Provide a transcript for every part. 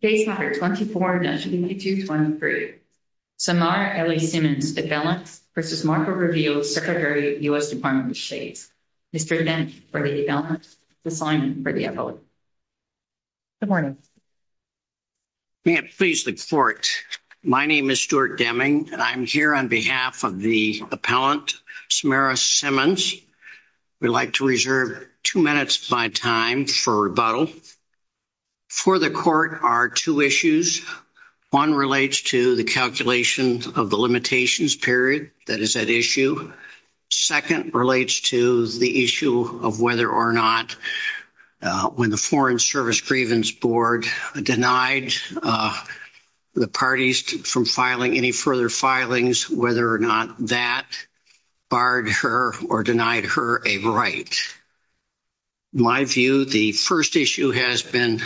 Case No. 24-2223. Samara L. Simmons, appellant, v. Marco Rubio, Secretary, U.S. Department of State. Mr. Deming, for the appellant, the assignment for the appellant. Good morning. May it please the court. My name is Stuart Deming, and I'm here on behalf of the appellant, Samara Simmons. We'd like to reserve 2 minutes by time for rebuttal. For the court are two issues. One relates to the calculation of the limitations period that is at issue. Second relates to the issue of whether or not when the Foreign Service Grievance Board denied the parties from filing any further filings, whether or not that barred her or denied her a right. In my view, the first issue has been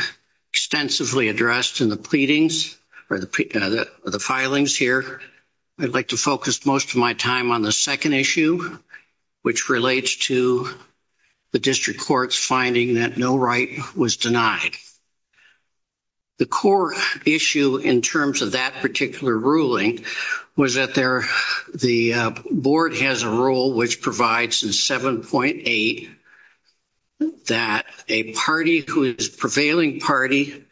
extensively addressed in the pleadings or the filings here. I'd like to focus most of my time on the second issue, which relates to the district court's finding that no right was denied. The core issue in terms of that particular ruling was that the board has a rule which provides in 7.8 that a party who is prevailing party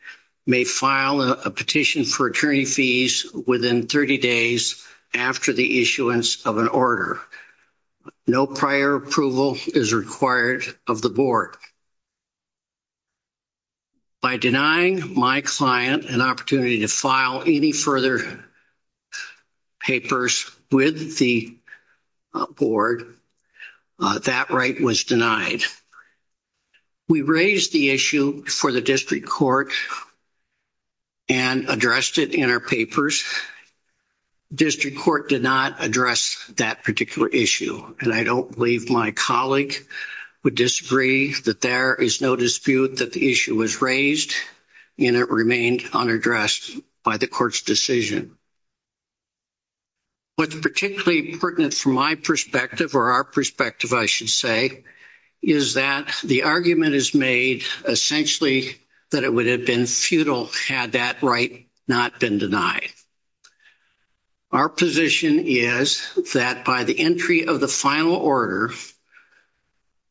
may file a petition for attorney fees within 30 days after the issuance of an order. No prior approval is required of the board. By denying my client an opportunity to file any further papers with the board, that right was denied. We raised the issue for the district court and addressed it in our papers. District court did not address that particular issue. And I don't believe my colleague would disagree that there is no dispute that the issue was raised and it remained unaddressed by the court's decision. What's particularly pertinent from my perspective or our perspective, I should say, is that the argument is made essentially that it would have been futile had that right not been denied. Our position is that by the entry of the final order,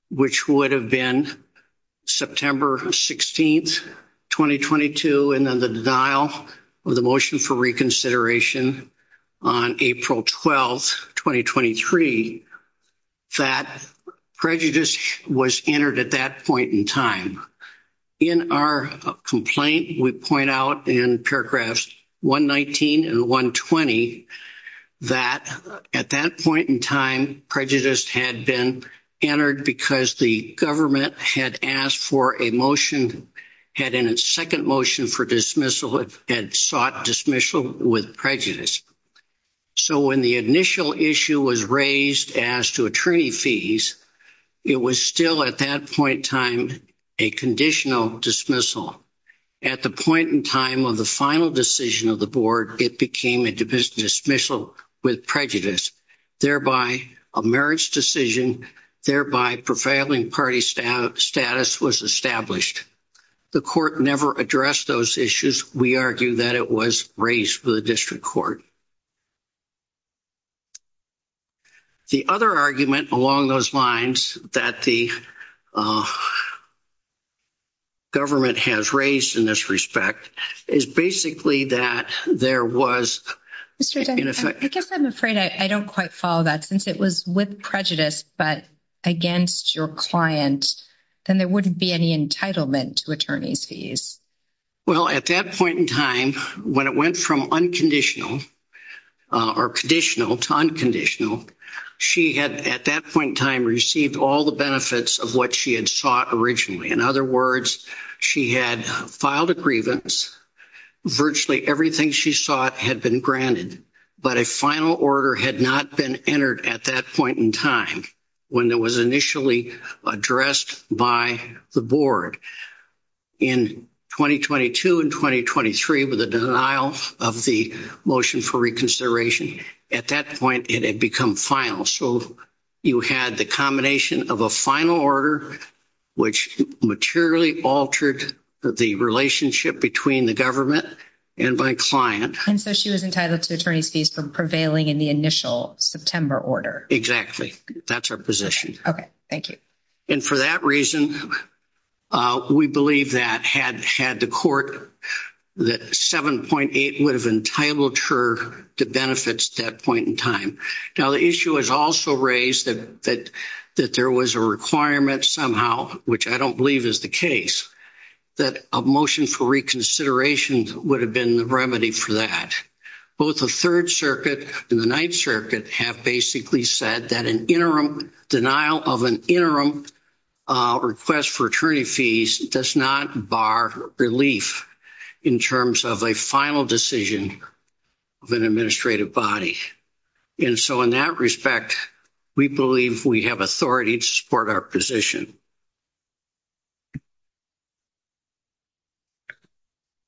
which would have been September 16, 2022, and then the denial of the motion for reconsideration on April 12, 2023, that prejudice was entered at that point in time. In our complaint, we point out in paragraphs 119 and 120 that at that point in time, prejudice had been entered because the government had asked for a motion, had in its second motion for dismissal, had sought dismissal with prejudice. So when the initial issue was raised as to attorney fees, it was still at that point in time a conditional dismissal. At the point in time of the final decision of the board, it became a dismissal with prejudice, thereby a marriage decision, thereby prevailing party status was established. The court never addressed those issues. We argue that it was raised with the district court. The other argument along those lines that the government has raised in this respect is basically that there was... Mr. Dunn, I guess I'm afraid I don't quite follow that. Since it was with prejudice but against your client, then there wouldn't be any entitlement to attorney's fees. Well, at that point in time, when it went from unconditional or conditional to unconditional, she had at that point in time received all the benefits of what she had sought originally. In other words, she had filed a grievance. Virtually everything she sought had been granted, but a final order had not been entered at that point in time when it was initially addressed by the board. In 2022 and 2023, with the denial of the motion for reconsideration, at that point it had become final. So you had the combination of a final order, which materially altered the relationship between the government and my client. And so she was entitled to attorney's fees for prevailing in the initial September order. Exactly. That's our position. Okay. Thank you. And for that reason, we believe that had the court, that 7.8 would have entitled her to benefits at that point in time. Now, the issue is also raised that there was a requirement somehow, which I don't believe is the case, that a motion for reconsideration would have been the remedy for that. Both the Third Circuit and the Ninth Circuit have basically said that an interim denial of an interim request for attorney fees does not bar relief in terms of a final decision of an administrative body. And so in that respect, we believe we have authority to support our position.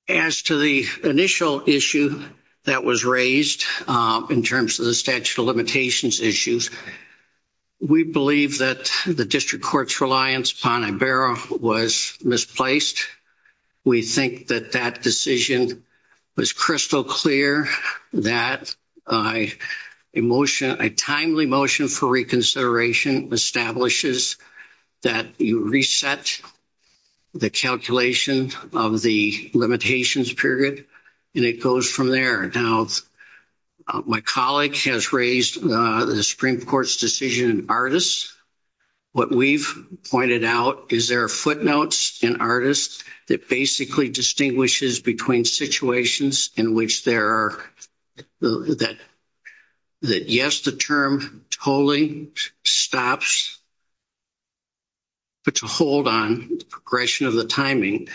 As to the initial issue that was raised in terms of the statute of limitations issues, we believe that the district court's reliance upon Ibarra was misplaced. We think that that decision was crystal clear that a motion, a timely motion for reconsideration establishes that you reset the calculation of the limitations period, and it goes from there. Now, my colleague has raised the Supreme Court's decision in ARTIS. What we've pointed out is there are footnotes in ARTIS that basically distinguishes between situations in which there are that yes, the term totally stops, but to hold on the progression of the timing.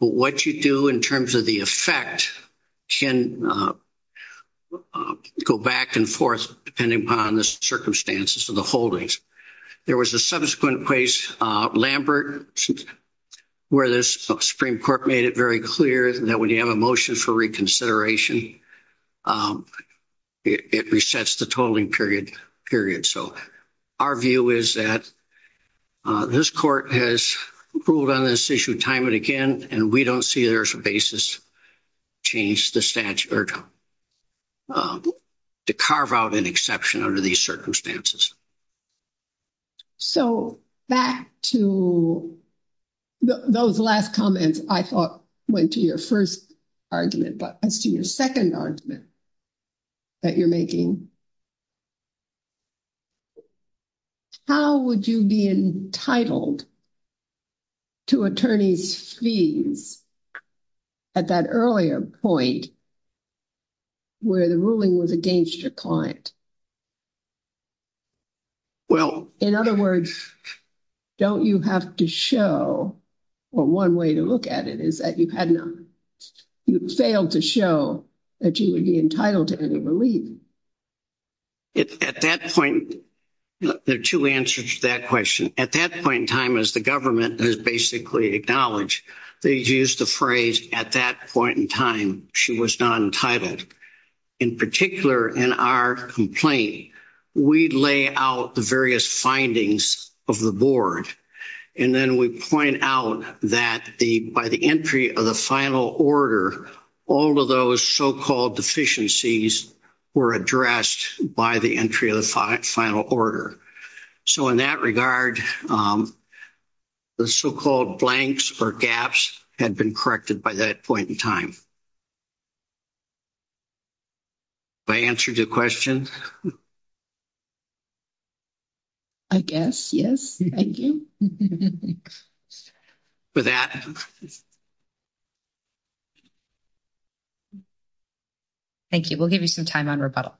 But what you do in terms of the effect can go back and forth depending upon the circumstances of the holdings. There was a subsequent case, Lambert, where the Supreme Court made it very clear that when you have a motion for reconsideration, it resets the totaling period. So our view is that this court has ruled on this issue time and again, and we don't see there's a basis to change the statute or to carve out an exception under these circumstances. So back to those last comments I thought went to your first argument, but as to your second argument that you're making, how would you be entitled to attorney's fees at that earlier point where the ruling was against your client? In other words, don't you have to show, or one way to look at it is that you failed to show that you would be entitled to any relief? At that point, there are two answers to that question. At that point in time, as the government has basically acknowledged, they used the phrase at that point in time, she was not entitled. In particular, in our complaint, we lay out the various findings of the board, and then we point out that by the entry of the final order, all of those so-called deficiencies were addressed by the entry of the final order. So in that regard, the so-called blanks or gaps had been corrected by that point in time. Have I answered your question? I guess, yes. Thank you. With that. Thank you. We'll give you some time on rebuttal.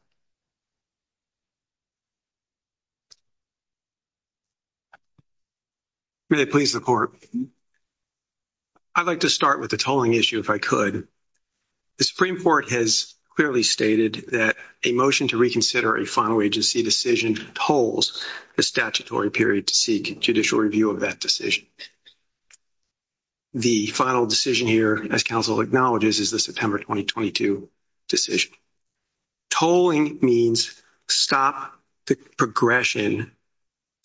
May I please the Court? I'd like to start with the tolling issue if I could. The Supreme Court has clearly stated that a motion to reconsider a final agency decision tolls the statutory period to seek judicial review of that decision. The final decision here, as counsel acknowledges, is the September 2022 decision. Tolling means stop the progression. The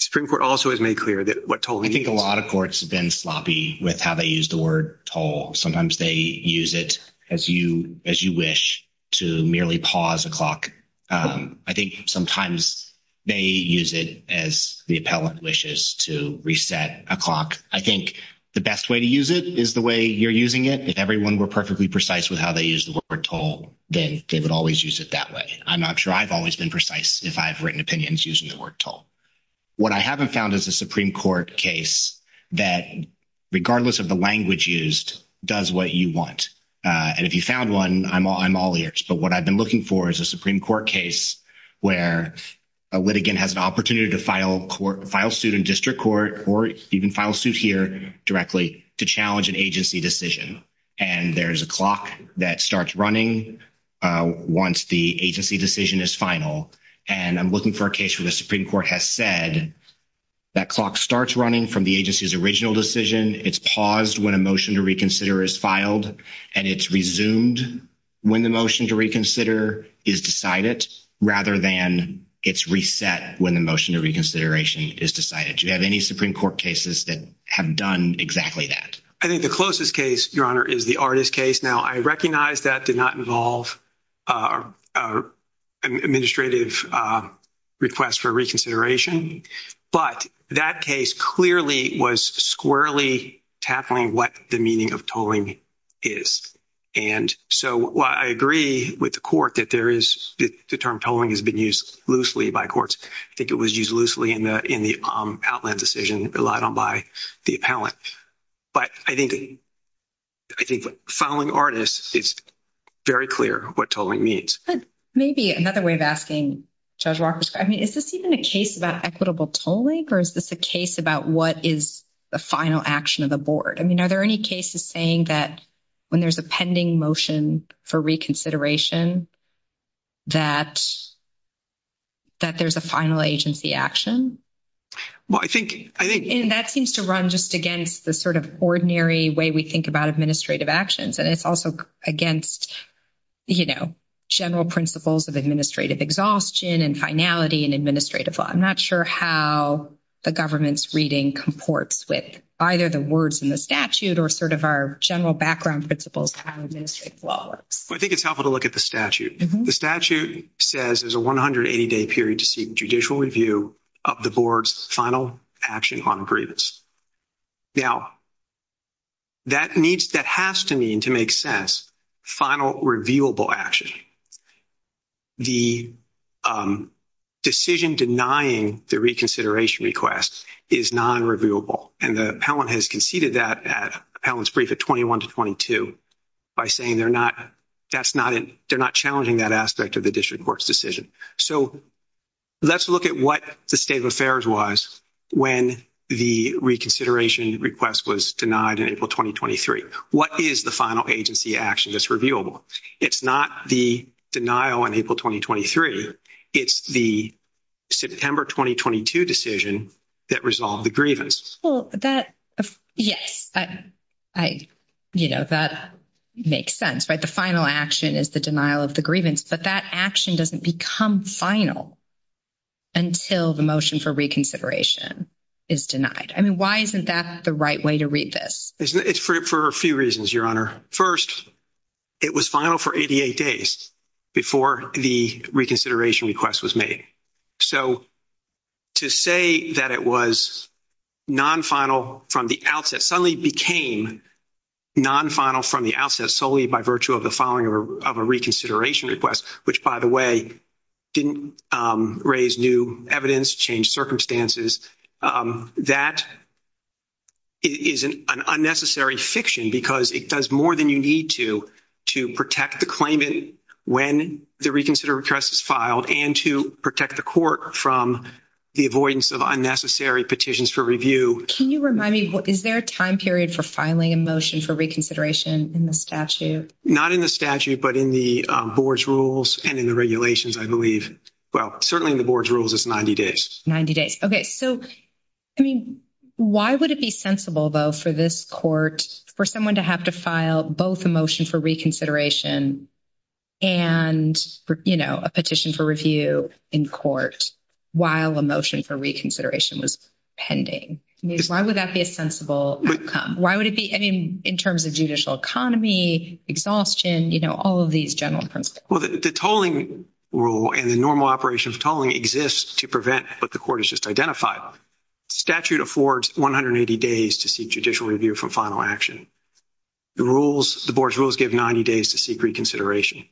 Supreme Court also has made clear that what tolling means. I think a lot of courts have been sloppy with how they use the word toll. Sometimes they use it as you wish to merely pause a clock. I think sometimes they use it as the appellant wishes to reset a clock. I think the best way to use it is the way you're using it. If everyone were perfectly precise with how they use the word toll, then they would always use it that way. I'm not sure I've always been precise if I've written opinions using the word toll. What I haven't found is a Supreme Court case that, regardless of the language used, does what you want. And if you found one, I'm all ears. But what I've been looking for is a Supreme Court case where a litigant has an opportunity to file suit in district court or even file suit here directly to challenge an agency decision. And there's a clock that starts running once the agency decision is final. And I'm looking for a case where the Supreme Court has said that clock starts running from the agency's original decision. It's paused when a motion to reconsider is filed. And it's resumed when the motion to reconsider is decided rather than it's reset when the motion to reconsideration is decided. Do you have any Supreme Court cases that have done exactly that? I think the closest case, Your Honor, is the Artist case. Now, I recognize that did not involve an administrative request for reconsideration. But that case clearly was squarely tackling what the meaning of tolling is. And so I agree with the court that there is the term tolling has been used loosely by courts. I think it was used loosely in the outland decision relied on by the appellant. But I think filing Artist is very clear what tolling means. Maybe another way of asking, Judge Walker, I mean, is this even a case about equitable tolling? Or is this a case about what is the final action of the board? I mean, are there any cases saying that when there's a pending motion for reconsideration that there's a final agency action? Well, I think... And that seems to run just against the sort of ordinary way we think about administrative actions. And it's also against, you know, general principles of administrative exhaustion and finality in administrative law. I'm not sure how the government's reading comports with either the words in the statute or sort of our general background principles how administrative law works. I think it's helpful to look at the statute. The statute says there's a 180-day period to seek judicial review of the board's final action on grievance. Now, that has to mean, to make sense, final reviewable action. The decision denying the reconsideration request is non-reviewable. And the appellant has conceded that appellant's brief at 21 to 22 by saying they're not challenging that aspect of the district court's decision. So let's look at what the state of affairs was when the reconsideration request was denied in April 2023. What is the final agency action that's reviewable? It's not the denial in April 2023. It's the September 2022 decision that resolved the grievance. Well, that, yes, I, you know, that makes sense, right? The final action is the denial of the grievance. But that action doesn't become final until the motion for reconsideration is denied. I mean, why isn't that the right way to read this? It's for a few reasons, Your Honor. First, it was final for 88 days before the reconsideration request was made. So to say that it was non-final from the outset suddenly became non-final from the outset solely by virtue of the following of a reconsideration request, which, by the way, didn't raise new evidence, change circumstances, that is an unnecessary fiction because it does more than you need to to protect the claimant when the reconsider request is filed and to protect the court from the avoidance of unnecessary petitions for review. Can you remind me, is there a time period for filing a motion for reconsideration in the statute? Not in the statute, but in the board's rules and in the regulations, I believe. Well, certainly in the board's rules, it's 90 days. 90 days. Okay. So, I mean, why would it be sensible, though, for this court, for someone to have to file both a motion for reconsideration and, you know, a petition for review in court while a motion for reconsideration was pending? I mean, why would that be a sensible outcome? Why would it be, I mean, in terms of judicial economy, exhaustion, you know, all of these general principles? Well, the tolling rule and the normal operation of tolling exists to prevent what the court has just identified. Statute affords 180 days to seek judicial review from final action. The rules, the board's rules give 90 days to seek reconsideration.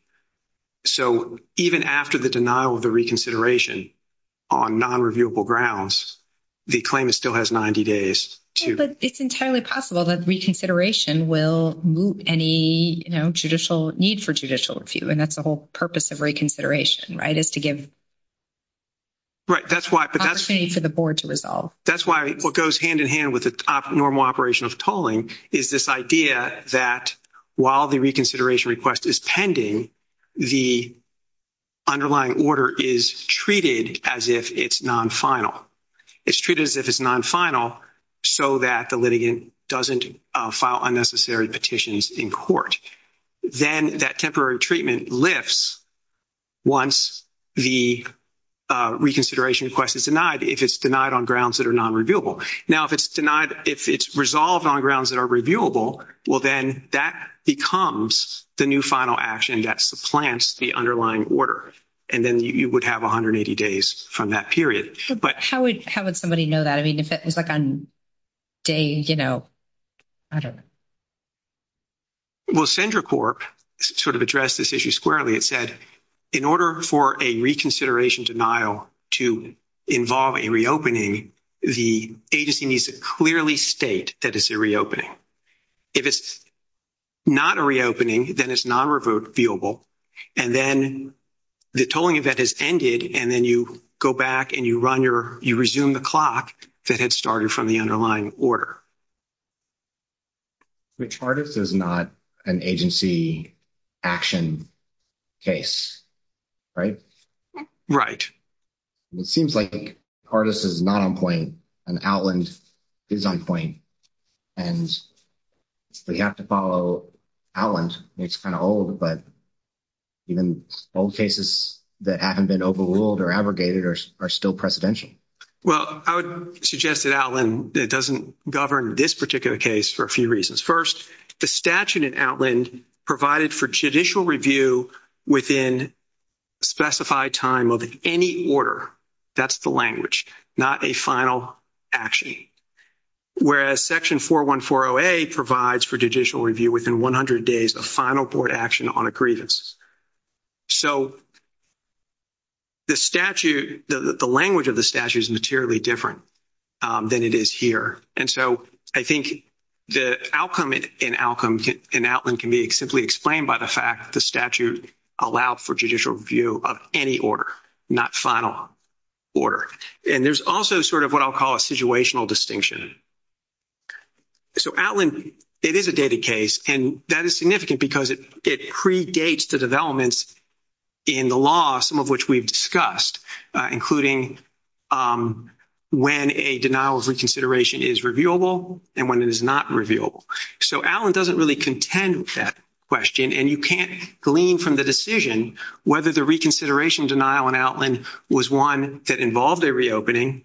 So even after the denial of the reconsideration on non-reviewable grounds, the claimant still has 90 days to. But it's entirely possible that reconsideration will move any, you know, judicial need for judicial review, and that's the whole purpose of reconsideration, right, is to give opportunity for the board to resolve. That's why what goes hand in hand with the normal operation of tolling is this idea that while the reconsideration request is pending, the underlying order is treated as if it's non-final. It's treated as if it's non-final so that the litigant doesn't file unnecessary petitions in court. Then that temporary treatment lifts once the reconsideration request is denied, if it's denied on grounds that are non-reviewable. Now, if it's denied, if it's resolved on grounds that are reviewable, well, then that becomes the new final action that supplants the underlying order, and then you would have 180 days from that period. But how would somebody know that? I mean, if it was like on day, you know, I don't know. Well, Cendracorp sort of addressed this issue squarely. It said in order for a reconsideration denial to involve a reopening, the agency needs to clearly state that it's a reopening. If it's not a reopening, then it's non-reviewable, and then the tolling event has ended, and then you go back and you resume the clock that had started from the underlying order. Which artist is not an agency action case, right? Right. It seems like the artist is not on point, and Outland is on point, and we have to follow Outland. It's kind of old, but even old cases that haven't been overruled or abrogated are still precedential. Well, I would suggest that Outland doesn't govern this particular case for a few reasons. First, the statute in Outland provided for judicial review within specified time of any order. That's the language, not a final action. Whereas Section 4140A provides for judicial review within 100 days of final board action on a grievance. So the language of the statute is materially different than it is here. And so I think the outcome in Outland can be simply explained by the fact the statute allowed for judicial review of any order, not final order. And there's also sort of what I'll call a situational distinction. So Outland, it is a dated case, and that is significant because it predates the developments in the law, some of which we've discussed, including when a denial of reconsideration is reviewable and when it is not reviewable. So Outland doesn't really contend with that question, and you can't glean from the decision whether the reconsideration denial in Outland was one that involved a reopening,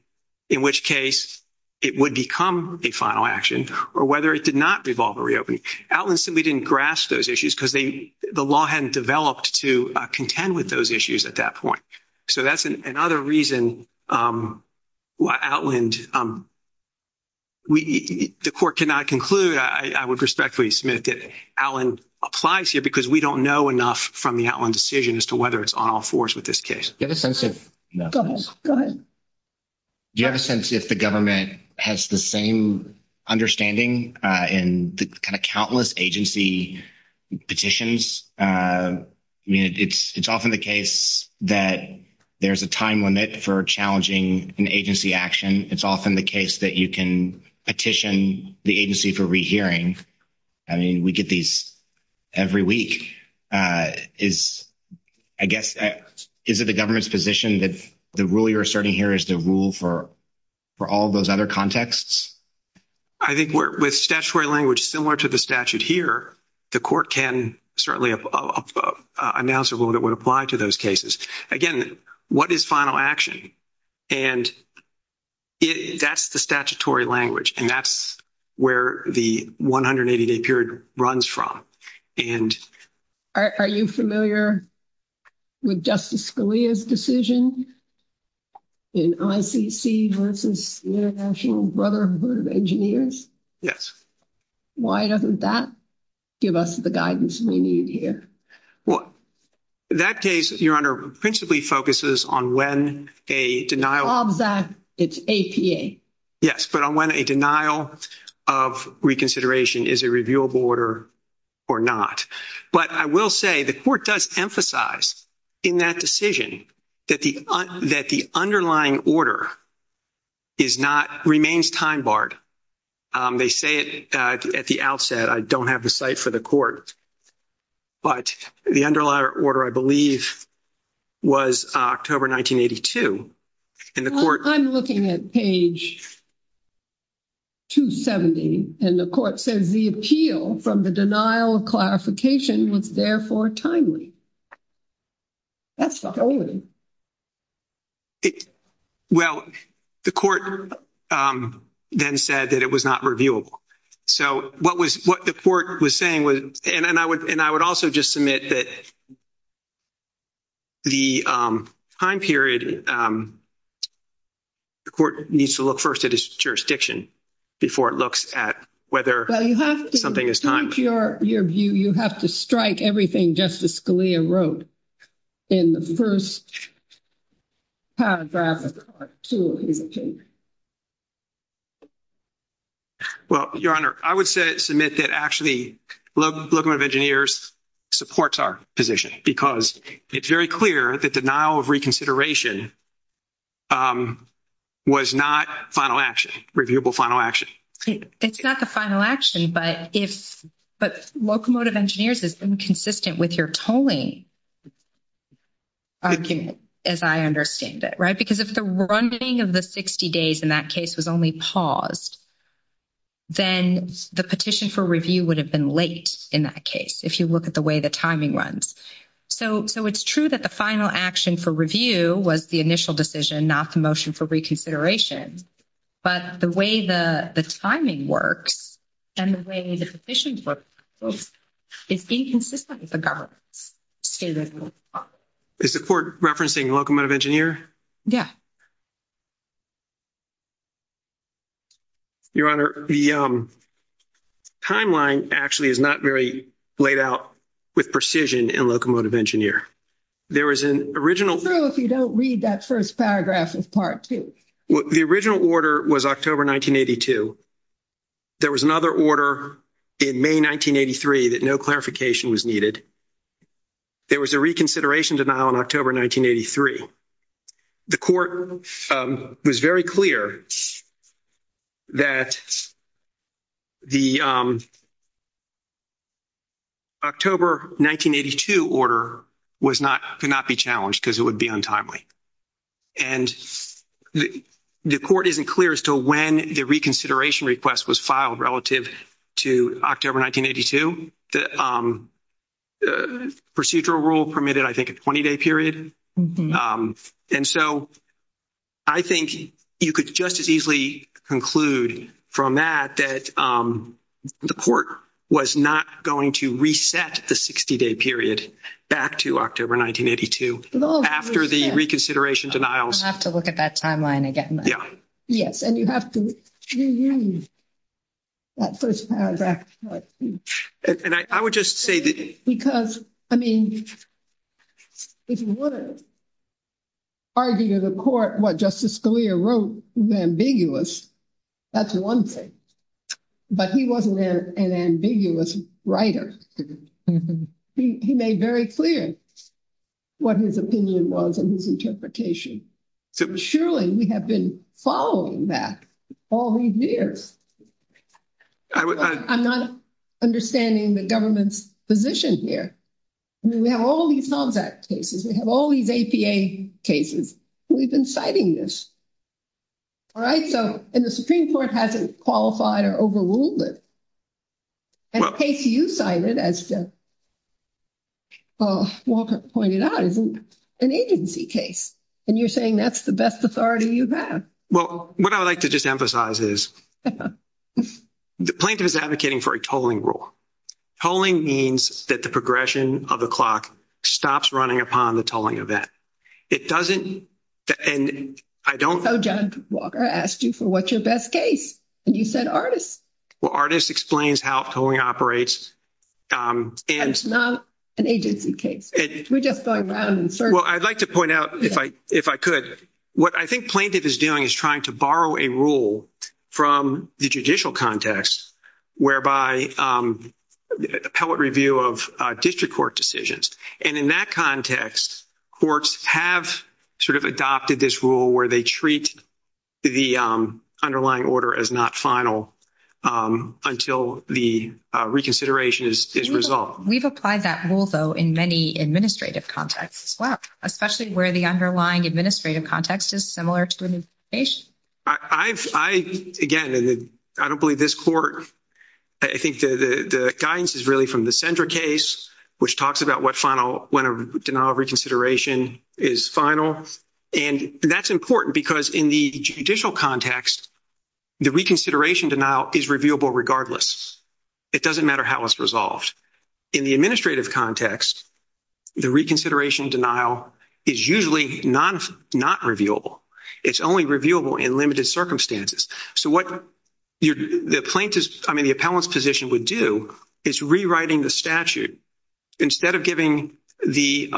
in which case it would become a final action, or whether it did not involve a reopening. Outland simply didn't grasp those issues because the law hadn't developed to contend with those issues at that point. So that's another reason why Outland, the court cannot conclude, I would respectfully submit, that Outland applies here because we don't know enough from the Outland decision as to whether it's on all fours with this case. Go ahead. Do you have a sense if the government has the same understanding in the kind of countless agency petitions? I mean, it's often the case that there's a time limit for challenging an agency action. It's often the case that you can petition the agency for rehearing. I mean, we get these every week. I guess, is it the government's position that the rule you're asserting here is the rule for all those other contexts? I think with statutory language similar to the statute here, the court can certainly announce a rule that would apply to those cases. Again, what is final action? And that's the statutory language, and that's where the 180-day period runs from. Are you familiar with Justice Scalia's decision in ICC versus the International Brotherhood of Engineers? Yes. Why doesn't that give us the guidance we need here? Well, that case, Your Honor, principally focuses on when a denial— Bob's Act, it's APA. Yes, but on when a denial of reconsideration is a reviewable order or not. But I will say the court does emphasize in that decision that the underlying order is not—remains time-barred. They say it at the outset. I don't have the cite for the court, but the underlying order, I believe, was October 1982. Well, I'm looking at page 270, and the court says, the appeal from the denial of clarification was therefore timely. That's the whole of it. Well, the court then said that it was not reviewable. So what the court was saying was—and I would also just submit that the time period, the court needs to look first at its jurisdiction before it looks at whether something is timely. Well, you have to strike everything Justice Scalia wrote in the first paragraph of Part 2 of his appeal. Well, Your Honor, I would submit that actually Locomotive Engineers supports our position because it's very clear that denial of reconsideration was not final action, reviewable final action. It's not the final action, but if—but Locomotive Engineers is inconsistent with your tolling argument, as I understand it, right? Because if the running of the 60 days in that case was only paused, then the petition for review would have been late in that case, if you look at the way the timing runs. So it's true that the final action for review was the initial decision, not the motion for reconsideration. But the way the timing works and the way the petition works is inconsistent with the government's statement. Is the court referencing Locomotive Engineer? Yeah. Your Honor, the timeline actually is not very laid out with precision in Locomotive Engineer. There was an original— It's true if you don't read that first paragraph of Part 2. The original order was October 1982. There was another order in May 1983 that no clarification was needed. There was a reconsideration denial in October 1983. The court was very clear that the October 1982 order was not—could not be challenged because it would be untimely. And the court isn't clear as to when the reconsideration request was filed relative to October 1982. The procedural rule permitted, I think, a 20-day period. And so I think you could just as easily conclude from that that the court was not going to reset the 60-day period back to October 1982 after the reconsideration denials. I'll have to look at that timeline again. Yes, and you have to review that first paragraph of Part 2. And I would just say that— Because, I mean, if you want to argue to the court what Justice Scalia wrote was ambiguous, that's one thing. But he wasn't an ambiguous writer. He made very clear what his opinion was and his interpretation. Surely, we have been following that all these years. I'm not understanding the government's position here. I mean, we have all these HOMS Act cases. We have all these APA cases. We've been citing this. All right? So—and the Supreme Court hasn't qualified or overruled it. And the case you cited, as Walker pointed out, is an agency case. And you're saying that's the best authority you have. Well, what I would like to just emphasize is the plaintiff is advocating for a tolling rule. Tolling means that the progression of the clock stops running upon the tolling event. It doesn't—and I don't— So John Walker asked you for what's your best case, and you said artists. Well, artists explains how tolling operates. And it's not an agency case. We're just going around and searching. Well, I'd like to point out, if I could, what I think plaintiff is doing is trying to borrow a rule from the judicial context, whereby the appellate review of district court decisions. And in that context, courts have sort of adopted this rule where they treat the underlying order as not final until the reconsideration is resolved. We've applied that rule, though, in many administrative contexts as well, especially where the underlying administrative context is similar to an investigation. I've—again, I don't believe this court— I think the guidance is really from the Sendra case, which talks about what final—when a denial of reconsideration is final. And that's important because in the judicial context, the reconsideration denial is reviewable regardless. It doesn't matter how it's resolved. In the administrative context, the reconsideration denial is usually not reviewable. It's only reviewable in limited circumstances. So what the plaintiff's—I mean, the appellant's position would do is rewriting the statute. Instead of giving the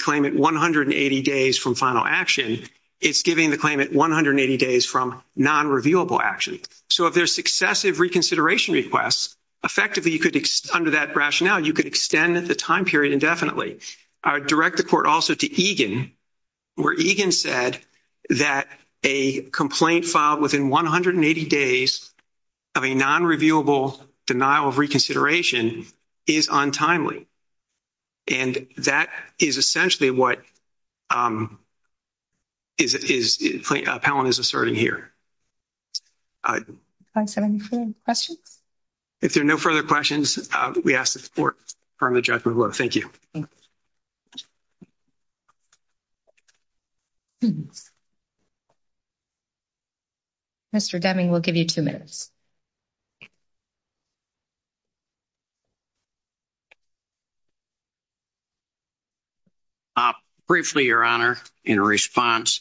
claimant 180 days from final action, it's giving the claimant 180 days from non-reviewable action. So if there's successive reconsideration requests, effectively you could—under that rationale, you could extend the time period indefinitely. I would direct the court also to Egan, where Egan said that a complaint filed within 180 days of a non-reviewable denial of reconsideration is untimely. And that is essentially what is—appellant is asserting here. Are there any further questions? If there are no further questions, we ask the court to confirm the judgment. Thank you. Mr. Deming, we'll give you two minutes. Briefly, Your Honor, in response,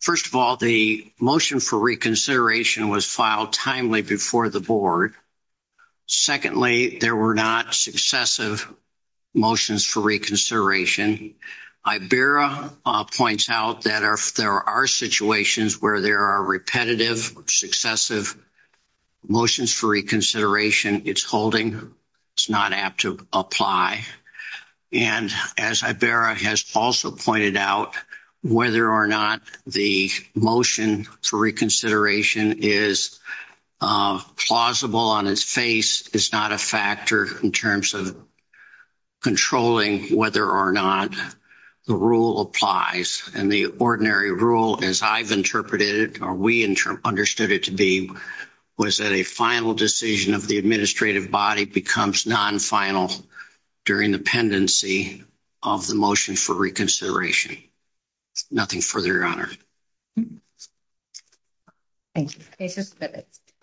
first of all, the motion for reconsideration was filed timely before the board. Secondly, there were not successive motions for reconsideration. Iberra points out that there are situations where there are repetitive, successive motions for reconsideration. It's holding. It's not apt to apply. And as Iberra has also pointed out, whether or not the motion for reconsideration is plausible on its face is not a factor in terms of controlling whether or not the rule applies. And the ordinary rule, as I've interpreted it, or we understood it to be, was that a final decision of the administrative body becomes non-final during the pendency of the motion for reconsideration. Nothing further, Your Honor. Thank you.